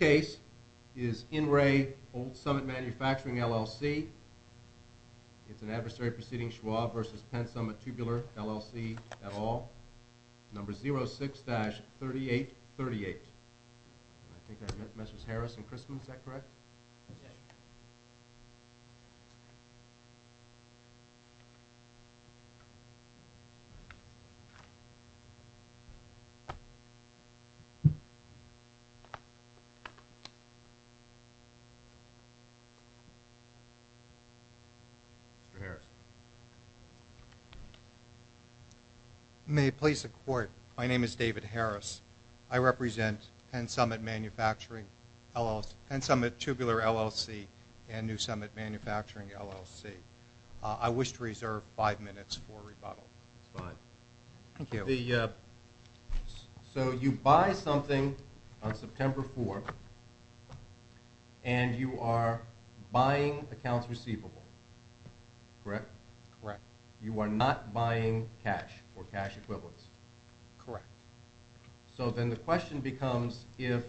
Case is In Re Old Summit Manufacturing, LLC. It's an adversary proceeding Schwab versus Penn Summit Tubular, LLC et al. Number 06-3838. I think that measures Harris and Christman, is that correct? Yes. Mr. Harris. May it please the court, my name is David Harris. I represent Penn Summit Tubular, LLC and New Summit Manufacturing, LLC. I wish to reserve five minutes for rebuttal. Five. Thank you. So you buy something on September 4th and you are buying accounts receivable, correct? Correct. You are not buying cash or cash equivalents? Correct. So then the question becomes if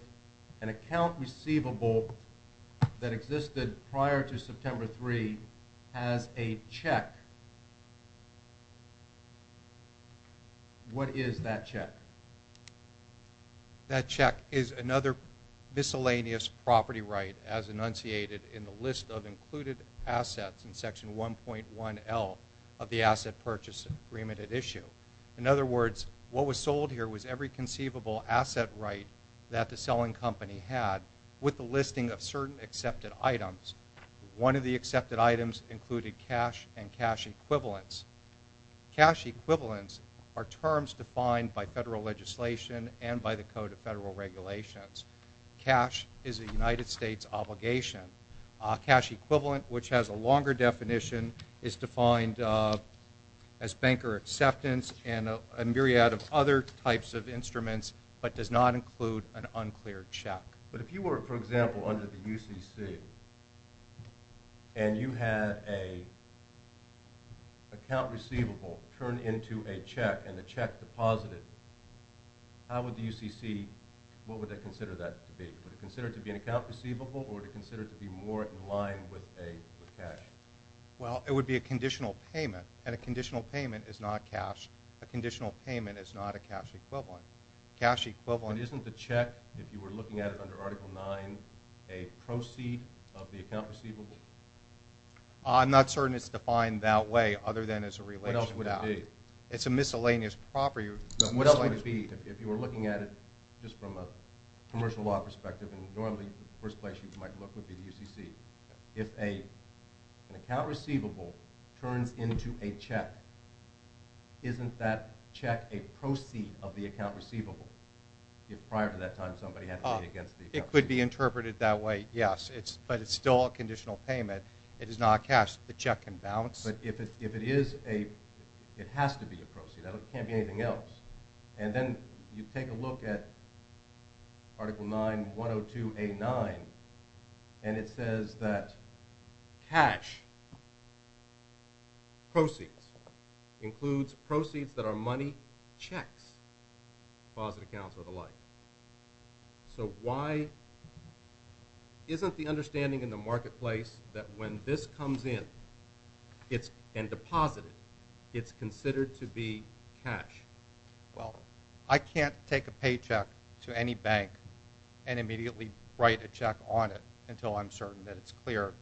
an account receivable that existed prior to September 3 has a check, what is that check? That check is another miscellaneous property right as enunciated in the list of included assets in Section 1.1L of the Asset Purchase Agreement at issue. In other words, what was sold here was every conceivable asset right that the selling company had with the listing of certain accepted items. One of the accepted items included cash and cash equivalents. Cash equivalents are terms defined by federal legislation and by the Code of Federal Regulations. Cash is a United States obligation. Cash equivalent which has a longer definition is defined as banker acceptance and a myriad of other types of instruments but does not include an unclear check. But if you were, for example, under the UCC and you had an account receivable turned into a check and the check deposited, how would the UCC, what would they consider that to be? Would they consider it to be an account receivable or would they consider it to be more in line with cash? Well, it would be a conditional payment and a conditional payment is not cash. A conditional payment is not a cash equivalent. Isn't the check, if you were looking at it under Article 9, a proceed of the account receivable? I'm not certain it's defined that way other than as a relation. It's a miscellaneous property. What else would it be if you were looking at it just from a commercial law perspective and normally the first place you might look would be the UCC. If an account receivable turns into a check, isn't that check a proceed of the account receivable? If prior to that time somebody had to pay against the account receivable. It could be interpreted that way, yes. But it's still a conditional payment. It is not cash. The check can bounce. But if it is a, it has to be a proceed. It can't be anything else. And then you take a look at Article 9, 102A9 and it says that cash proceeds includes proceeds that are money, checks, deposit accounts or the like. So why isn't the understanding in the marketplace that when this comes in and deposited, it's considered to be cash? Well, I can't take a paycheck to any bank and immediately write a check on it until I'm certain that it's clear.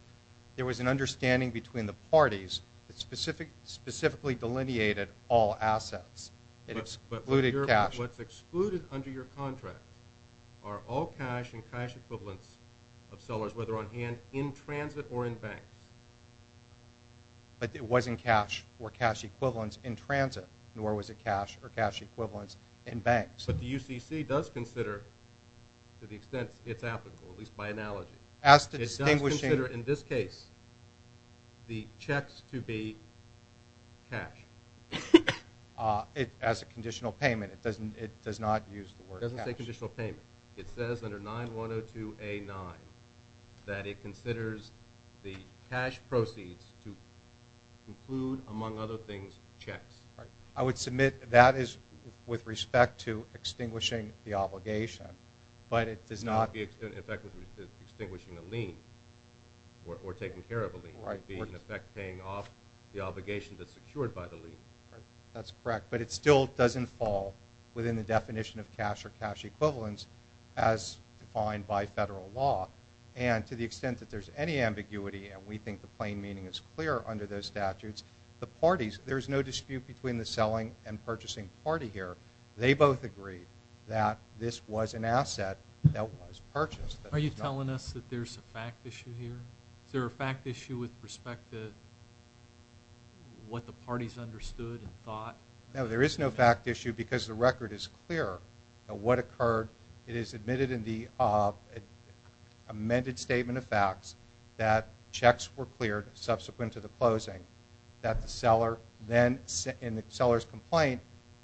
There was an understanding between the parties that specifically delineated all assets. It excluded cash. What's excluded under your contract are all cash and cash equivalents of sellers, whether on hand in transit or in banks. But it wasn't cash or cash equivalents in transit, nor was it cash or cash equivalents in banks. But the UCC does consider to the extent it's applicable, at least by analogy. It does consider in this case the checks to be cash. As a conditional payment, it does not use the word cash. It doesn't say conditional payment. It says under 9102A9 that it considers the cash proceeds to include, among other things, checks. I would submit that is with respect to extinguishing the obligation. It would be in effect with extinguishing a lien or taking care of a lien. It would be in effect paying off the obligation that's secured by the lien. That's correct, but it still doesn't fall within the definition of cash or cash equivalents as defined by federal law. And to the extent that there's any ambiguity and we think the plain meaning is clear under those statutes, the parties, there's no dispute between the selling and purchasing party here. They both agree that this was an asset that was purchased. Are you telling us that there's a fact issue here? Is there a fact issue with respect to what the parties understood and thought? No, there is no fact issue because the record is clear of what occurred. It is admitted in the amended statement of facts that checks were cleared subsequent to the closing. That the seller then, in the seller's complaint,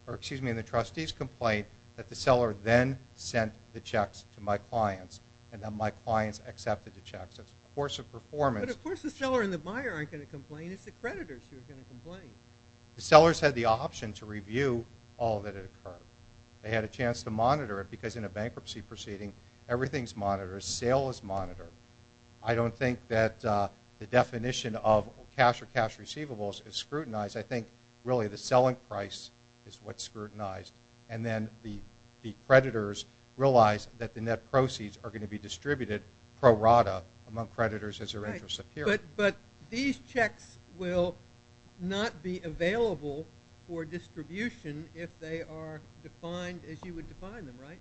or excuse me, in the trustee's complaint, that the seller then sent the checks to my clients and that my clients accepted the checks. But of course the seller and the buyer aren't going to complain. It's the creditors who are going to complain. The sellers had the option to review all that had occurred. They had a chance to monitor it because in a bankruptcy proceeding, everything's monitored. Sale is monitored. I don't think that the definition of cash or cash receivables is scrutinized. I think really the selling price is what's scrutinized. And then the creditors realize that the net proceeds are going to be distributed pro rata among creditors as their interests appear. But these checks will not be available for distribution if they are defined as you would define them, right?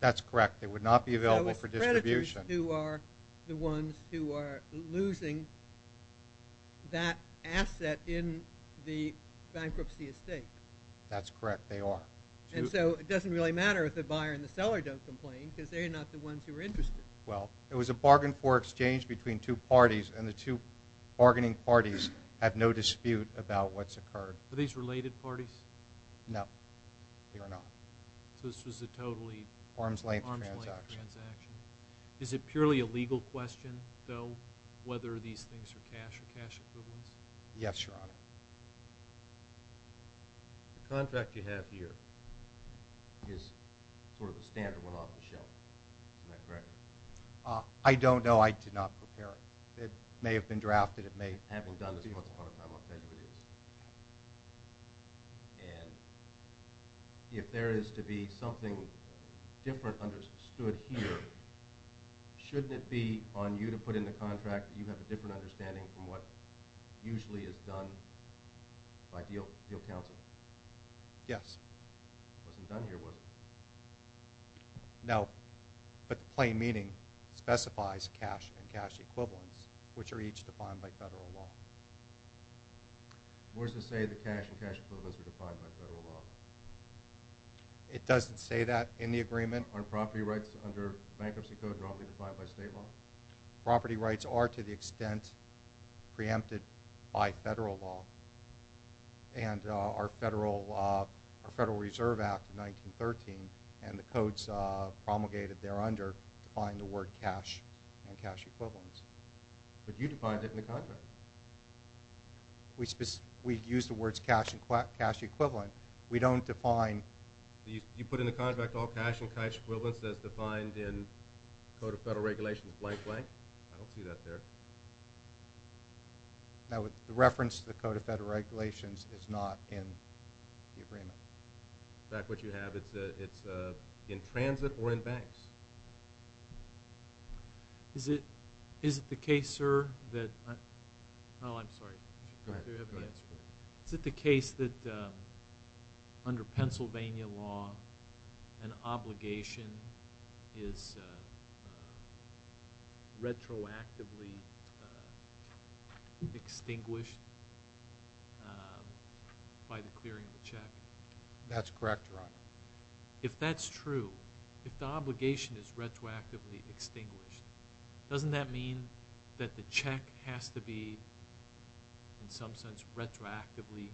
That's correct. They would not be available for distribution. They are the ones who are losing that asset in the bankruptcy estate. That's correct. They are. And so it doesn't really matter if the buyer and the seller don't complain because they're not the ones who are interested. Well, it was a bargain for exchange between two parties and the two bargaining parties have no dispute about what's occurred. Are these related parties? No, they are not. So this was a totally arm's length transaction. Is it purely a legal question, though, whether these things are cash or cash equivalents? Yes, Your Honor. The contract you have here is sort of a standard one off the shelf. Is that correct? I don't know. I did not prepare it. It may have been drafted. It may have been done. And if there is to be something different understood here, shouldn't it be on you to put in the contract that you have a different understanding from what usually is done by deal counsel? Yes. It wasn't done here, was it? No, but plain meaning specifies cash and cash equivalents which are each defined by federal law. What does it say that cash and cash equivalents are defined by federal law? It doesn't say that in the agreement. Aren't property rights under bankruptcy code roughly defined by state law? Property rights are to the extent preempted by federal law. And our Federal Reserve Act of 1913 and the codes promulgated there under define the word cash and cash equivalents. But you defined it in the contract. We use the words cash and cash equivalent. We don't define. You put in the contract all cash and cash equivalents as defined in Code of Federal Regulations blank blank? I don't see that there. The reference to the Code of Federal Regulations is not in the agreement. In fact, what you have is in transit or in banks. Is it the case, sir, that… Oh, I'm sorry. Is it the case that under Pennsylvania law an obligation is retroactively extinguished by the clearing of the check? If that's true, if the obligation is retroactively extinguished, doesn't that mean that the check has to be in some sense retroactively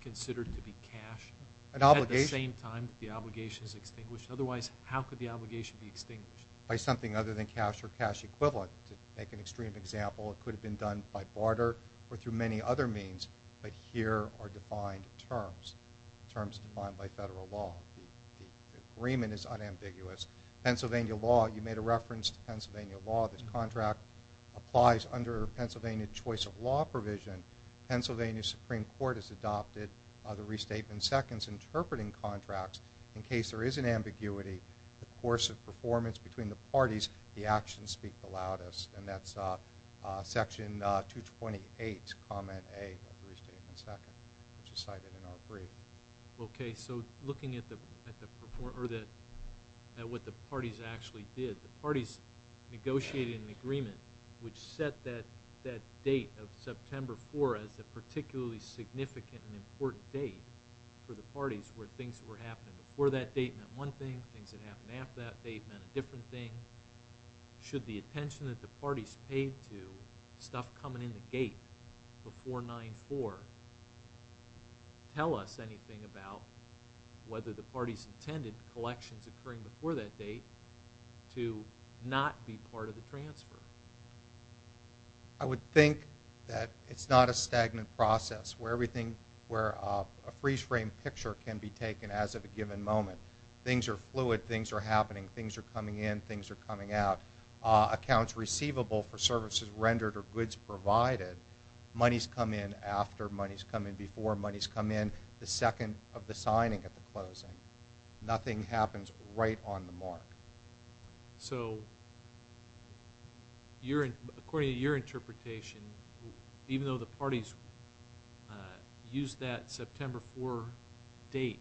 considered to be cash? At the same time that the obligation is extinguished? Otherwise, how could the obligation be extinguished? By something other than cash or cash equivalent. To make an extreme example, it could have been done by barter or through many other means. But here are defined terms. Terms defined by federal law. The agreement is unambiguous. Pennsylvania law, you made a reference to Pennsylvania law. This contract applies under Pennsylvania choice of law provision. Pennsylvania Supreme Court has adopted the restatement seconds interpreting contracts in case there is an ambiguity. The course of performance between the parties, the actions speak the loudest. And that's section 228, comment A, restatement second, which is cited in our brief. Okay, so looking at what the parties actually did. The parties negotiated an agreement which set that date of September 4 as a particularly significant and important date for the parties where things that were happening before that date meant one thing, things that happened after that date meant a different thing. Should the attention that the parties paid to stuff coming in the gate before 9-4 tell us anything about whether the parties intended collections occurring before that date to not be part of the transfer? I would think that it's not a stagnant process where everything, where a freeze frame picture can be taken as of a given moment. Things are fluid, things are happening, things are coming in, things are coming out. Accounts receivable for services rendered or goods provided, monies come in after, monies come in before, monies come in the second of the signing of the closing. Nothing happens right on the mark. So according to your interpretation, even though the parties used that September 4 date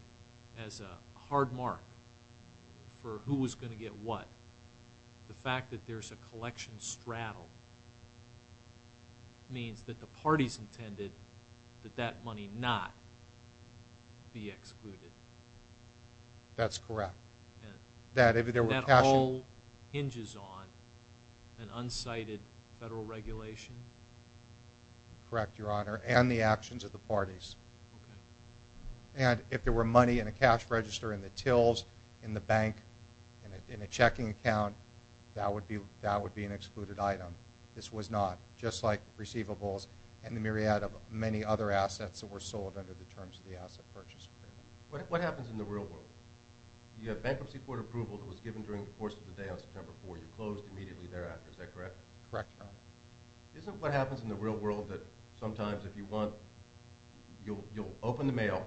as a hard mark for who was going to get what, the fact that there's a collection straddle means that the parties intended that that money not be excluded. That's correct. That all hinges on an unsighted federal regulation? Correct, Your Honor, and the actions of the parties. And if there were money in a cash register in the tills, in the bank, in a checking account, that would be an excluded item. This was not, just like receivables and the myriad of many other assets that were sold under the terms of the asset purchase agreement. What happens in the real world? The bankruptcy court approval that was given during the course of the day on September 4, you closed immediately thereafter, is that correct? Correct, Your Honor. Isn't what happens in the real world that sometimes if you want, you'll open the mail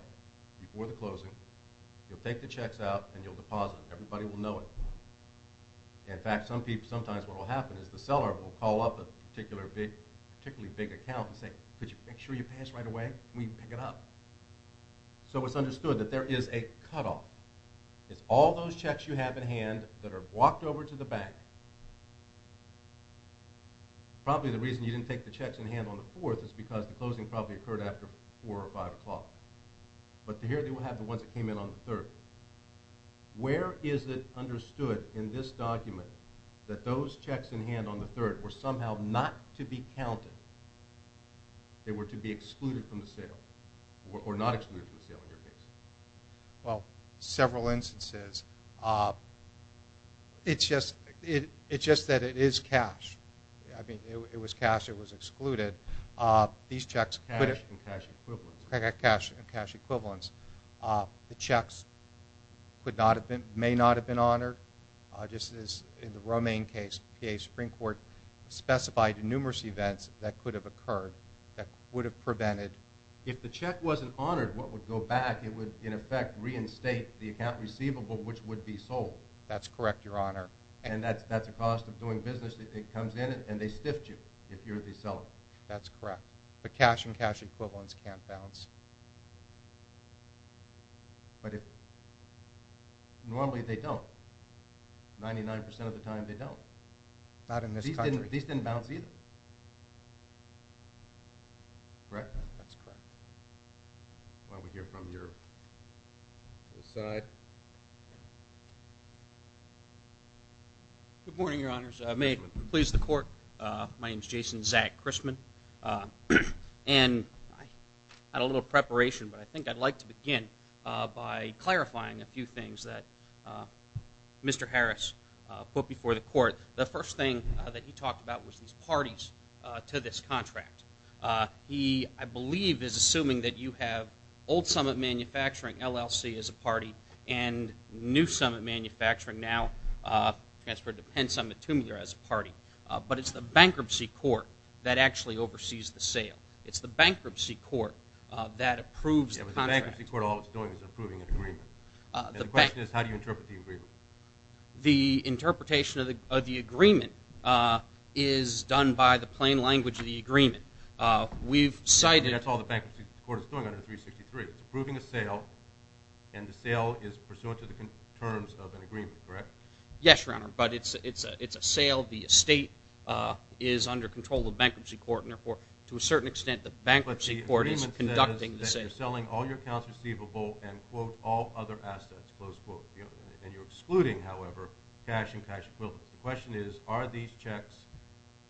before the closing, you'll take the checks out, and you'll deposit. Everybody will know it. In fact, sometimes what will happen is the seller will call up a particularly big account and say, could you make sure you pay us right away? And we pick it up. So it's understood that there is a cutoff. It's all those checks you have in hand that are walked over to the bank. Probably the reason you didn't take the checks in hand on the 4th is because the closing probably occurred after 4 or 5 o'clock. But here they will have the ones that came in on the 3rd. Where is it understood in this document that those checks in hand on the 3rd were somehow not to be counted? They were to be excluded from the sale. Or not excluded from the sale, in your case. Well, several instances. It's just that it is cash. I mean, it was cash, it was excluded. Cash and cash equivalents. Cash and cash equivalents. The checks may not have been honored. Just as in the Romaine case, the PA Supreme Court specified numerous events that could have occurred that would have prevented. If the check wasn't honored, what would go back? It would, in effect, reinstate the account receivable, which would be sold. That's correct, Your Honor. And that's the cost of doing business. It comes in and they stiffed you if you're the seller. That's correct. But cash and cash equivalents can't bounce. But normally they don't. 99% of the time they don't. Not in this country. These didn't bounce either. Correct? That's correct. Why don't we hear from your side. Good morning, Your Honors. May it please the Court. My name is Jason Zack Christman. And I had a little preparation, but I think I'd like to begin by clarifying a few things that Mr. Harris put before the Court. The first thing that he talked about was these parties to this contract. He, I believe, is assuming that you have Old Summit Manufacturing, LLC, as a party, and New Summit Manufacturing now transferred to Penn Summit, Tumulier, as a party. But it's the bankruptcy court that actually oversees the sale. It's the bankruptcy court that approves the contract. Yeah, but the bankruptcy court, all it's doing is approving an agreement. The interpretation of the agreement is done by the plain language of the agreement. We've cited... I mean, that's all the bankruptcy court is doing under 363. It's approving a sale, and the sale is pursuant to the terms of an agreement, correct? Yes, Your Honor, but it's a sale. The estate is under control of the bankruptcy court, and therefore, to a certain extent, the bankruptcy court is conducting the sale. But the agreement says that you're selling all your accounts receivable and, quote, all other assets, close quote. And you're excluding, however, cash and cash equivalents. The question is, are these checks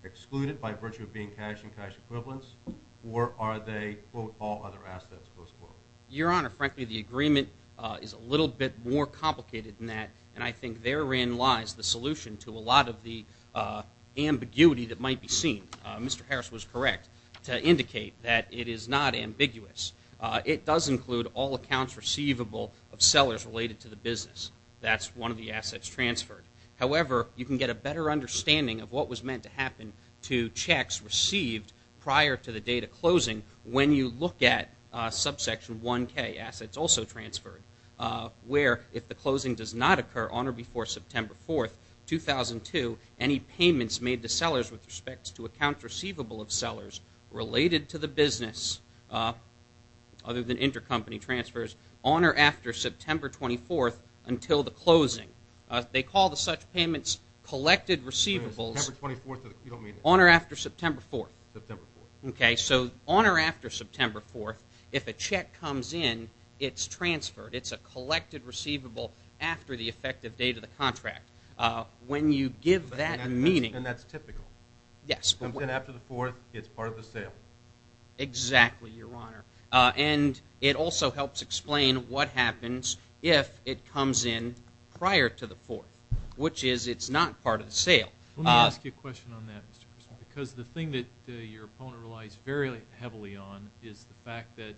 excluded by virtue of being cash and cash equivalents, or are they, quote, all other assets, close quote? Your Honor, frankly, the agreement is a little bit more complicated than that, and I think therein lies the solution to a lot of the ambiguity that might be seen. Mr. Harris was correct to indicate that it is not ambiguous. It does include all accounts receivable of sellers related to the business. That's one of the assets transferred. However, you can get a better understanding of what was meant to happen to checks received prior to the date of closing when you look at subsection 1K, assets also transferred, where if the closing does not occur on or before September 4th, 2002, any payments made to sellers with respect to accounts receivable of sellers related to the business, other than intercompany transfers, on or after September 24th until the closing. They call the such payments collected receivables on or after September 4th. Okay, so on or after September 4th, if a check comes in, it's transferred. It's a collected receivable after the effective date of the contract. When you give that meaning. And that's typical. Yes. After the 4th, it's part of the sale. Exactly, Your Honor. And it also helps explain what happens if it comes in prior to the 4th, which is it's not part of the sale. Let me ask you a question on that, Mr. Christman, because the thing that your opponent relies very heavily on is the fact that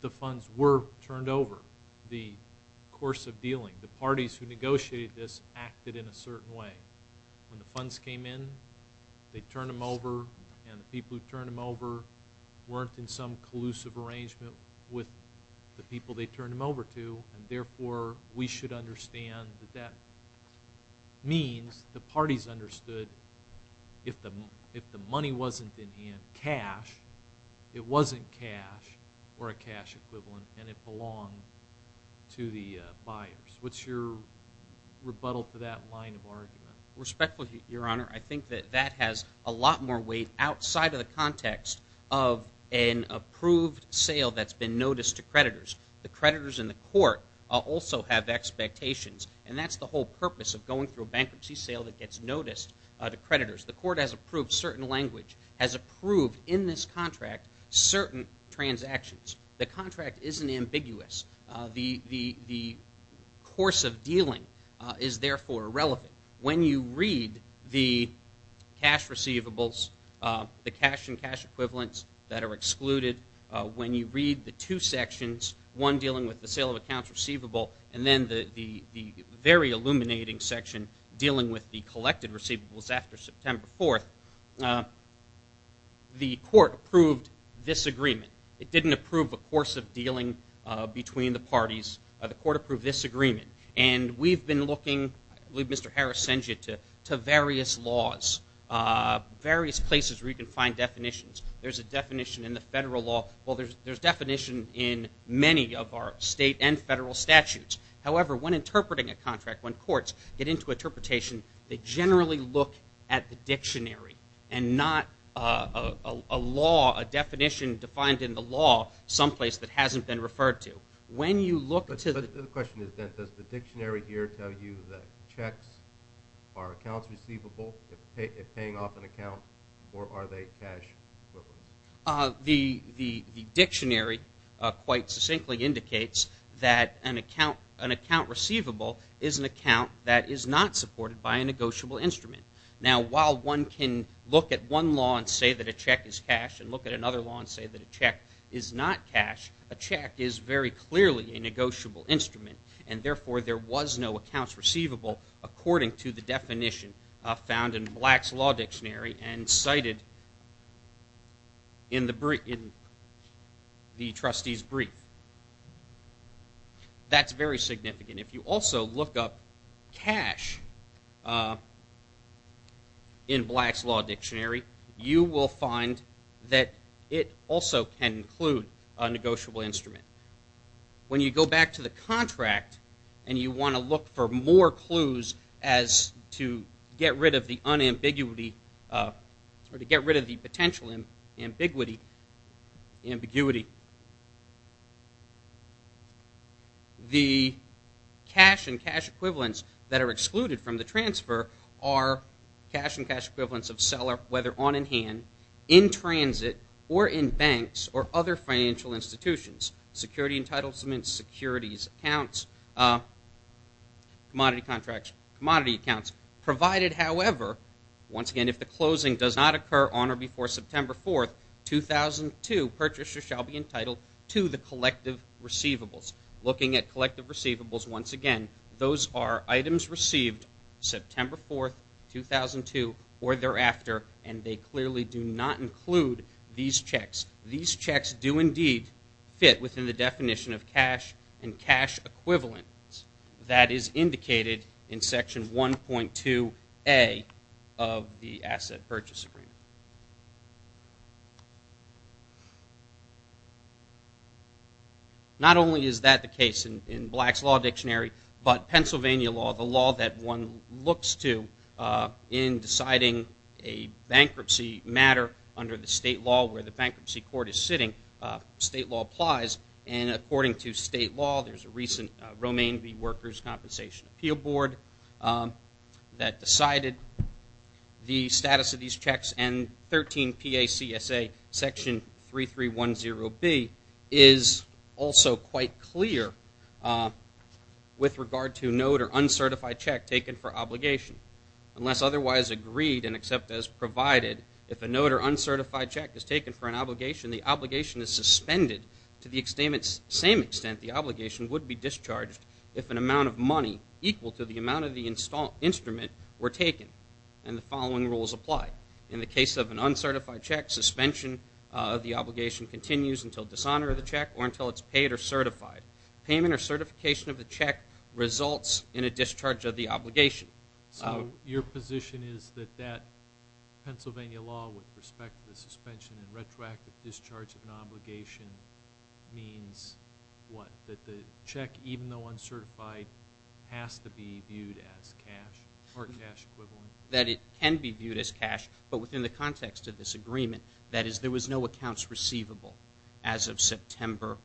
the funds were turned over the course of dealing. The parties who negotiated this acted in a certain way. When the funds came in, they turned them over, and the people who turned them over weren't in some collusive arrangement with the people they turned them over to. And therefore, we should understand that that means the parties understood if the money wasn't in cash, it wasn't cash or a cash equivalent, and it belonged to the buyers. What's your rebuttal to that line of argument? Respectfully, Your Honor, I think that that has a lot more weight outside of the context of an approved sale that's been noticed to creditors. The creditors in the court also have expectations, and that's the whole purpose of going through a bankruptcy sale that gets noticed to creditors. The court has approved certain language, has approved in this contract certain transactions. The contract isn't ambiguous. The course of dealing is therefore irrelevant. When you read the cash receivables, the cash and cash equivalents that are excluded, when you read the two sections, one dealing with the sale of accounts receivable, and then the very illuminating section dealing with the collected receivables after September 4th, the court approved this agreement. It didn't approve a course of dealing between the parties. And we've been looking, I believe Mr. Harris sends you to various laws, various places where you can find definitions. There's a definition in the federal law. Well, there's definition in many of our state and federal statutes. However, when interpreting a contract, when courts get into interpretation, they generally look at the dictionary and not a law, a definition defined in the law someplace that hasn't been referred to. The question is, does the dictionary here tell you that checks are accounts receivable if paying off an account, or are they cash equivalents? The dictionary quite succinctly indicates that an account receivable is an account that is not supported by a negotiable instrument. Now, while one can look at one law and say that a check is cash and look at another law and say that a check is not cash, a check is very clearly a negotiable instrument. And therefore, there was no accounts receivable according to the definition found in Black's Law Dictionary and cited in the trustee's brief. That's very significant. If you also look up cash in Black's Law Dictionary, you will find that it also can include a negotiable instrument. When you go back to the contract and you want to look for more clues as to get rid of the unambiguity or to get rid of the potential ambiguity, the cash and cash equivalents that are excluded from the transfer are cash and cash equivalents of seller, whether on in hand, in transit, or in banks or other financial institutions. Security entitlements, securities accounts, commodity contracts, commodity accounts provided, however, once again, if the closing does not occur on or before September 4th, 2002, purchasers shall be entitled to the collective receivables. Looking at collective receivables, once again, those are items received September 4th, 2002, or thereafter, and they clearly do not include these checks. These checks do indeed fit within the definition of cash and cash equivalents that is indicated in Section 1.2A of the Asset Purchase Agreement. Not only is that the case in Black's Law Dictionary, but Pennsylvania law, the law that one looks to in deciding a bankruptcy matter under the state law where the bankruptcy court is sitting, state law applies, and according to state law, there's a recent Romaine v. Workers Compensation Appeal Board that decided the status of these checks, and 13 P.A.C.S.A. Section 3310B is also quite clear with regard to note or uncertified check taken for obligation. Unless otherwise agreed and except as provided, if a note or uncertified check is taken for an obligation, the obligation is suspended to the same extent the obligation would be discharged if an amount of money equal to the amount of the instrument were taken, and the following rules apply. In the case of an uncertified check, suspension of the obligation continues until dishonor of the check or until it's paid or certified. Payment or certification of the check results in a discharge of the obligation. So your position is that that Pennsylvania law with respect to the suspension and retroactive discharge of an obligation means what? That the check, even though uncertified, has to be viewed as cash or cash equivalent? That it can be viewed as cash, but within the context of this agreement, that is, there was no accounts receivable as of September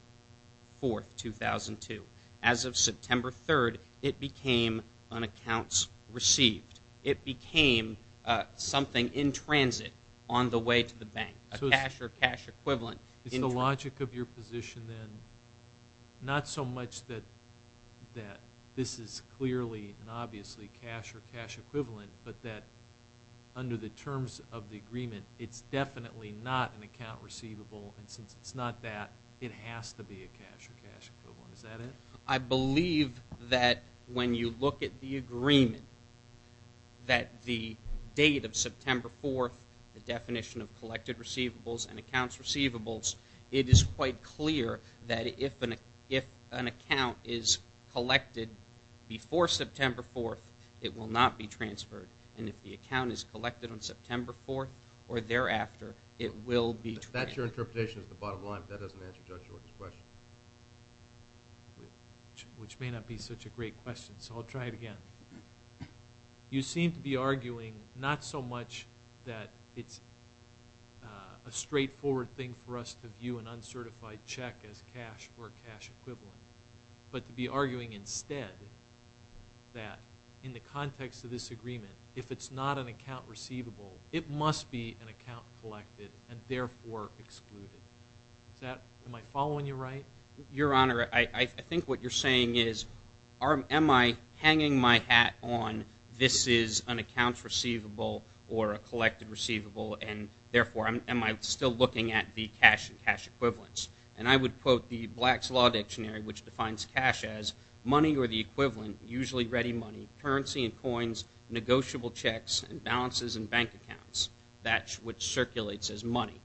4th, 2002. As of September 3rd, it became an accounts received. It became something in transit on the way to the bank, a cash or cash equivalent. Is the logic of your position then not so much that this is clearly and obviously cash or cash equivalent, but that under the terms of the agreement, it's definitely not an account receivable, and since it's not that, it has to be a cash or cash equivalent. Is that it? I believe that when you look at the agreement, that the date of September 4th, the definition of collected receivables and accounts receivables, it is quite clear that if an account is collected before September 4th, it will not be transferred. And if the account is collected on September 4th or thereafter, it will be transferred. That's your interpretation at the bottom line, but that doesn't answer Judge York's question. Which may not be such a great question, so I'll try it again. You seem to be arguing not so much that it's a straightforward thing for us to view an uncertified check as cash or cash equivalent, but to be arguing instead that in the context of this agreement, if it's not an account receivable, it must be an account collected and therefore excluded. Am I following you right? Your Honor, I think what you're saying is, am I hanging my hat on this is an account receivable or a collected receivable, and therefore, am I still looking at the cash and cash equivalents? And I would quote the Black's Law Dictionary, which defines cash as money or the equivalent, usually ready money, currency and coins, negotiable checks, and balances and bank accounts, which circulates as money.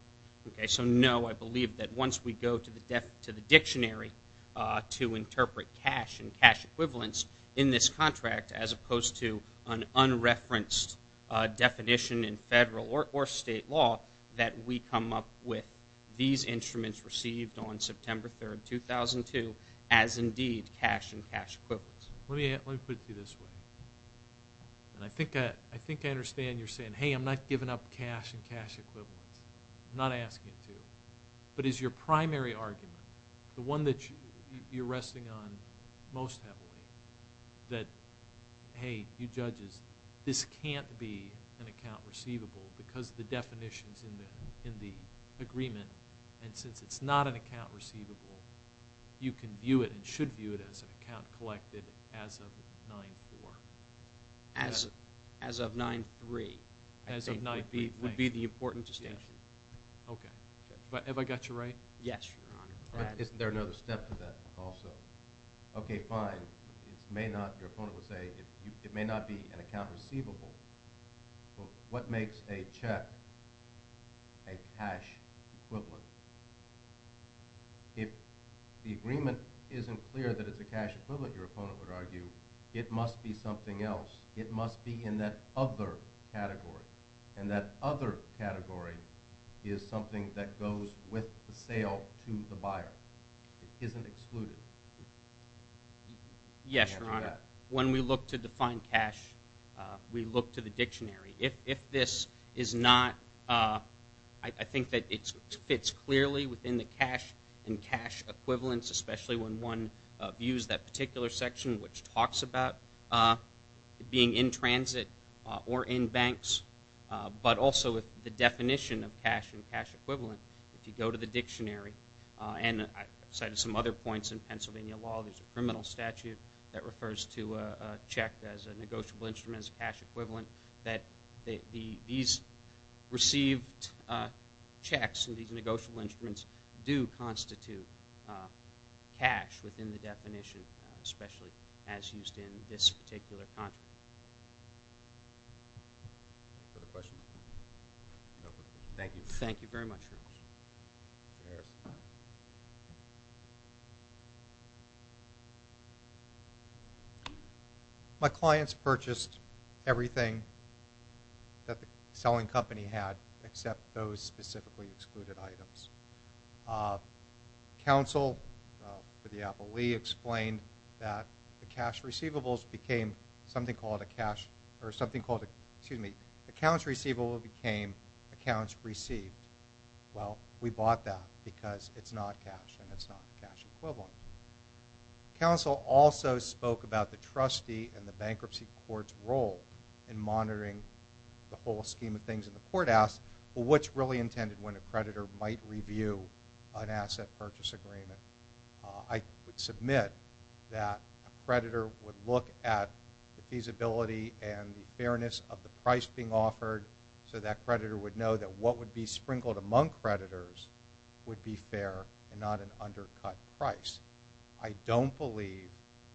Okay, so no, I believe that once we go to the dictionary to interpret cash and cash equivalents in this contract, as opposed to an unreferenced definition in federal or state law, that we come up with these instruments received on September 3rd, 2002, as indeed cash and cash equivalents. Let me put it to you this way. And I think I understand you're saying, hey, I'm not giving up cash and cash equivalents. I'm not asking you to. But is your primary argument, the one that you're resting on most heavily, that, hey, you judges, this can't be an account receivable because of the definitions in the agreement, and since it's not an account receivable, you can view it and should view it as an account collected as of 9-4. As of 9-3. As of 9-3. Would be the important distinction. Okay. But have I got you right? Yes, Your Honor. Isn't there another step to that also? Okay, fine. It may not, your opponent would say, it may not be an account receivable. What makes a check a cash equivalent? If the agreement isn't clear that it's a cash equivalent, your opponent would argue, it must be something else. It must be in that other category. And that other category is something that goes with the sale to the buyer. Yes, Your Honor. When we look to define cash, we look to the dictionary. If this is not, I think that it fits clearly within the cash and cash equivalents, especially when one views that particular section which talks about it being in transit or in banks. But also with the definition of cash and cash equivalent, if you go to the dictionary, and I cited some other points in Pennsylvania law, there's a criminal statute that refers to a check as a negotiable instrument, as a cash equivalent, that these received checks and these negotiable instruments do constitute cash within the definition, especially as used in this particular contract. Other questions? No questions. Thank you. Thank you very much, Your Honor. Cheers. Cheers. My clients purchased everything that the selling company had except those specifically excluded items. Counsel for the Apple Lee explained that the cash receivables became something called a cash, or something called a, excuse me, accounts receivable became accounts received. Well, we bought that because it's not cash and it's not cash equivalent. Counsel also spoke about the trustee and the bankruptcy court's role in monitoring the whole scheme of things. And the court asked, well, what's really intended when a creditor might review an asset purchase agreement? I would submit that a creditor would look at the feasibility and the fairness of the price being offered, so that creditor would know that what would be sprinkled among creditors would be fair and not an undercut price. I don't believe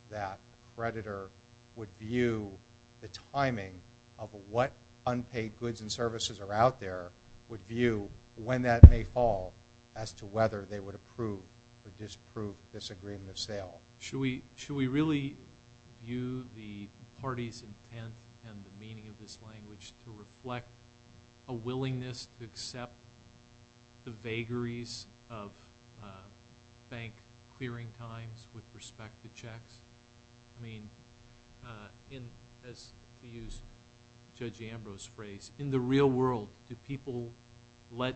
that creditor would view the timing of what unpaid goods and services are out there, would view when that may fall as to whether they would approve or disprove this agreement of sale. Should we really view the party's intent and the meaning of this language to reflect a willingness to accept the vagaries of bank clearing times with respect to checks? I mean, as we used Judge Ambrose's phrase, in the real world, do people let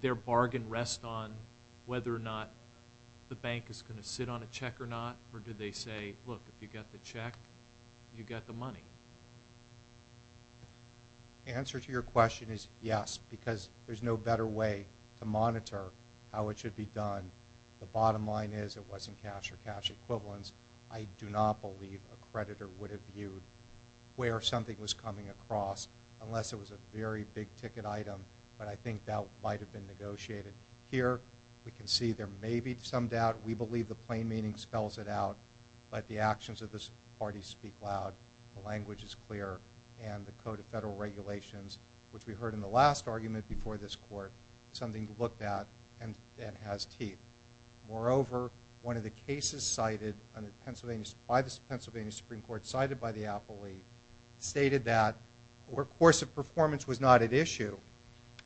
their bargain rest on whether or not the bank is going to sit on a check or not? Or do they say, look, if you got the check, you got the money? The answer to your question is yes, because there's no better way to monitor how it should be done. The bottom line is it wasn't cash or cash equivalents. I do not believe a creditor would have viewed where something was coming across unless it was a very big ticket item. But I think that might have been negotiated. Here, we can see there may be some doubt. We believe the plain meaning spells it out. But the actions of this party speak loud. The language is clear. And the Code of Federal Regulations, which we heard in the last argument before this court, is something to look at and has teeth. Moreover, one of the cases cited by the Pennsylvania Supreme Court, cited by the appellee, stated that where course of performance was not at issue,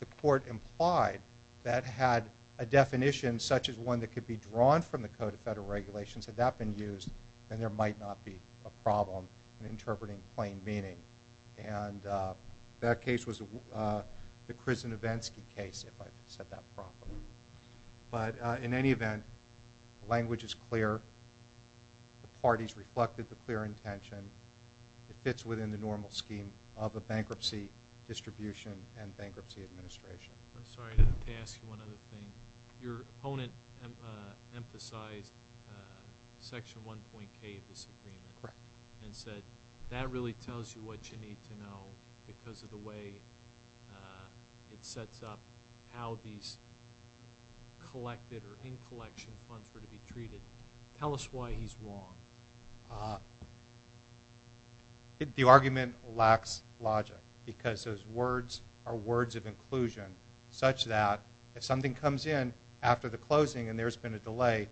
the court implied that had a definition such as one that could be drawn from the Code of Federal Regulations, had that been used, then there might not be a problem in interpreting plain meaning. And that case was the Krizinevensky case, if I said that properly. But in any event, the language is clear. The parties reflected the clear intention. It fits within the normal scheme of a bankruptcy distribution and bankruptcy administration. I'm sorry to ask you one other thing. Your opponent emphasized Section 1.K of this agreement. Correct. And said that really tells you what you need to know because of the way it sets up how these collected or in-collection funds were to be treated. Tell us why he's wrong. The argument lacks logic because those words are words of inclusion such that if something comes in after the closing and there's been a delay,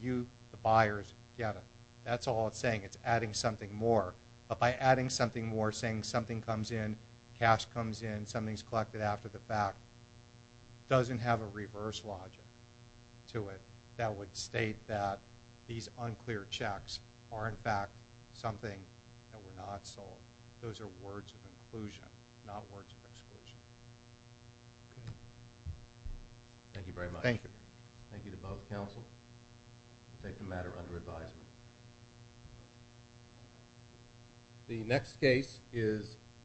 you, the buyers, get it. That's all it's saying. It's adding something more. But by adding something more, saying something comes in, cash comes in, something's collected after the fact, doesn't have a reverse logic to it that would state that these unclear checks are, in fact, something that were not sold. Those are words of inclusion, not words of exclusion. Okay. Thank you very much. Thank you. Thank you to both counsels. I take the matter under advisement. The next case is, you know,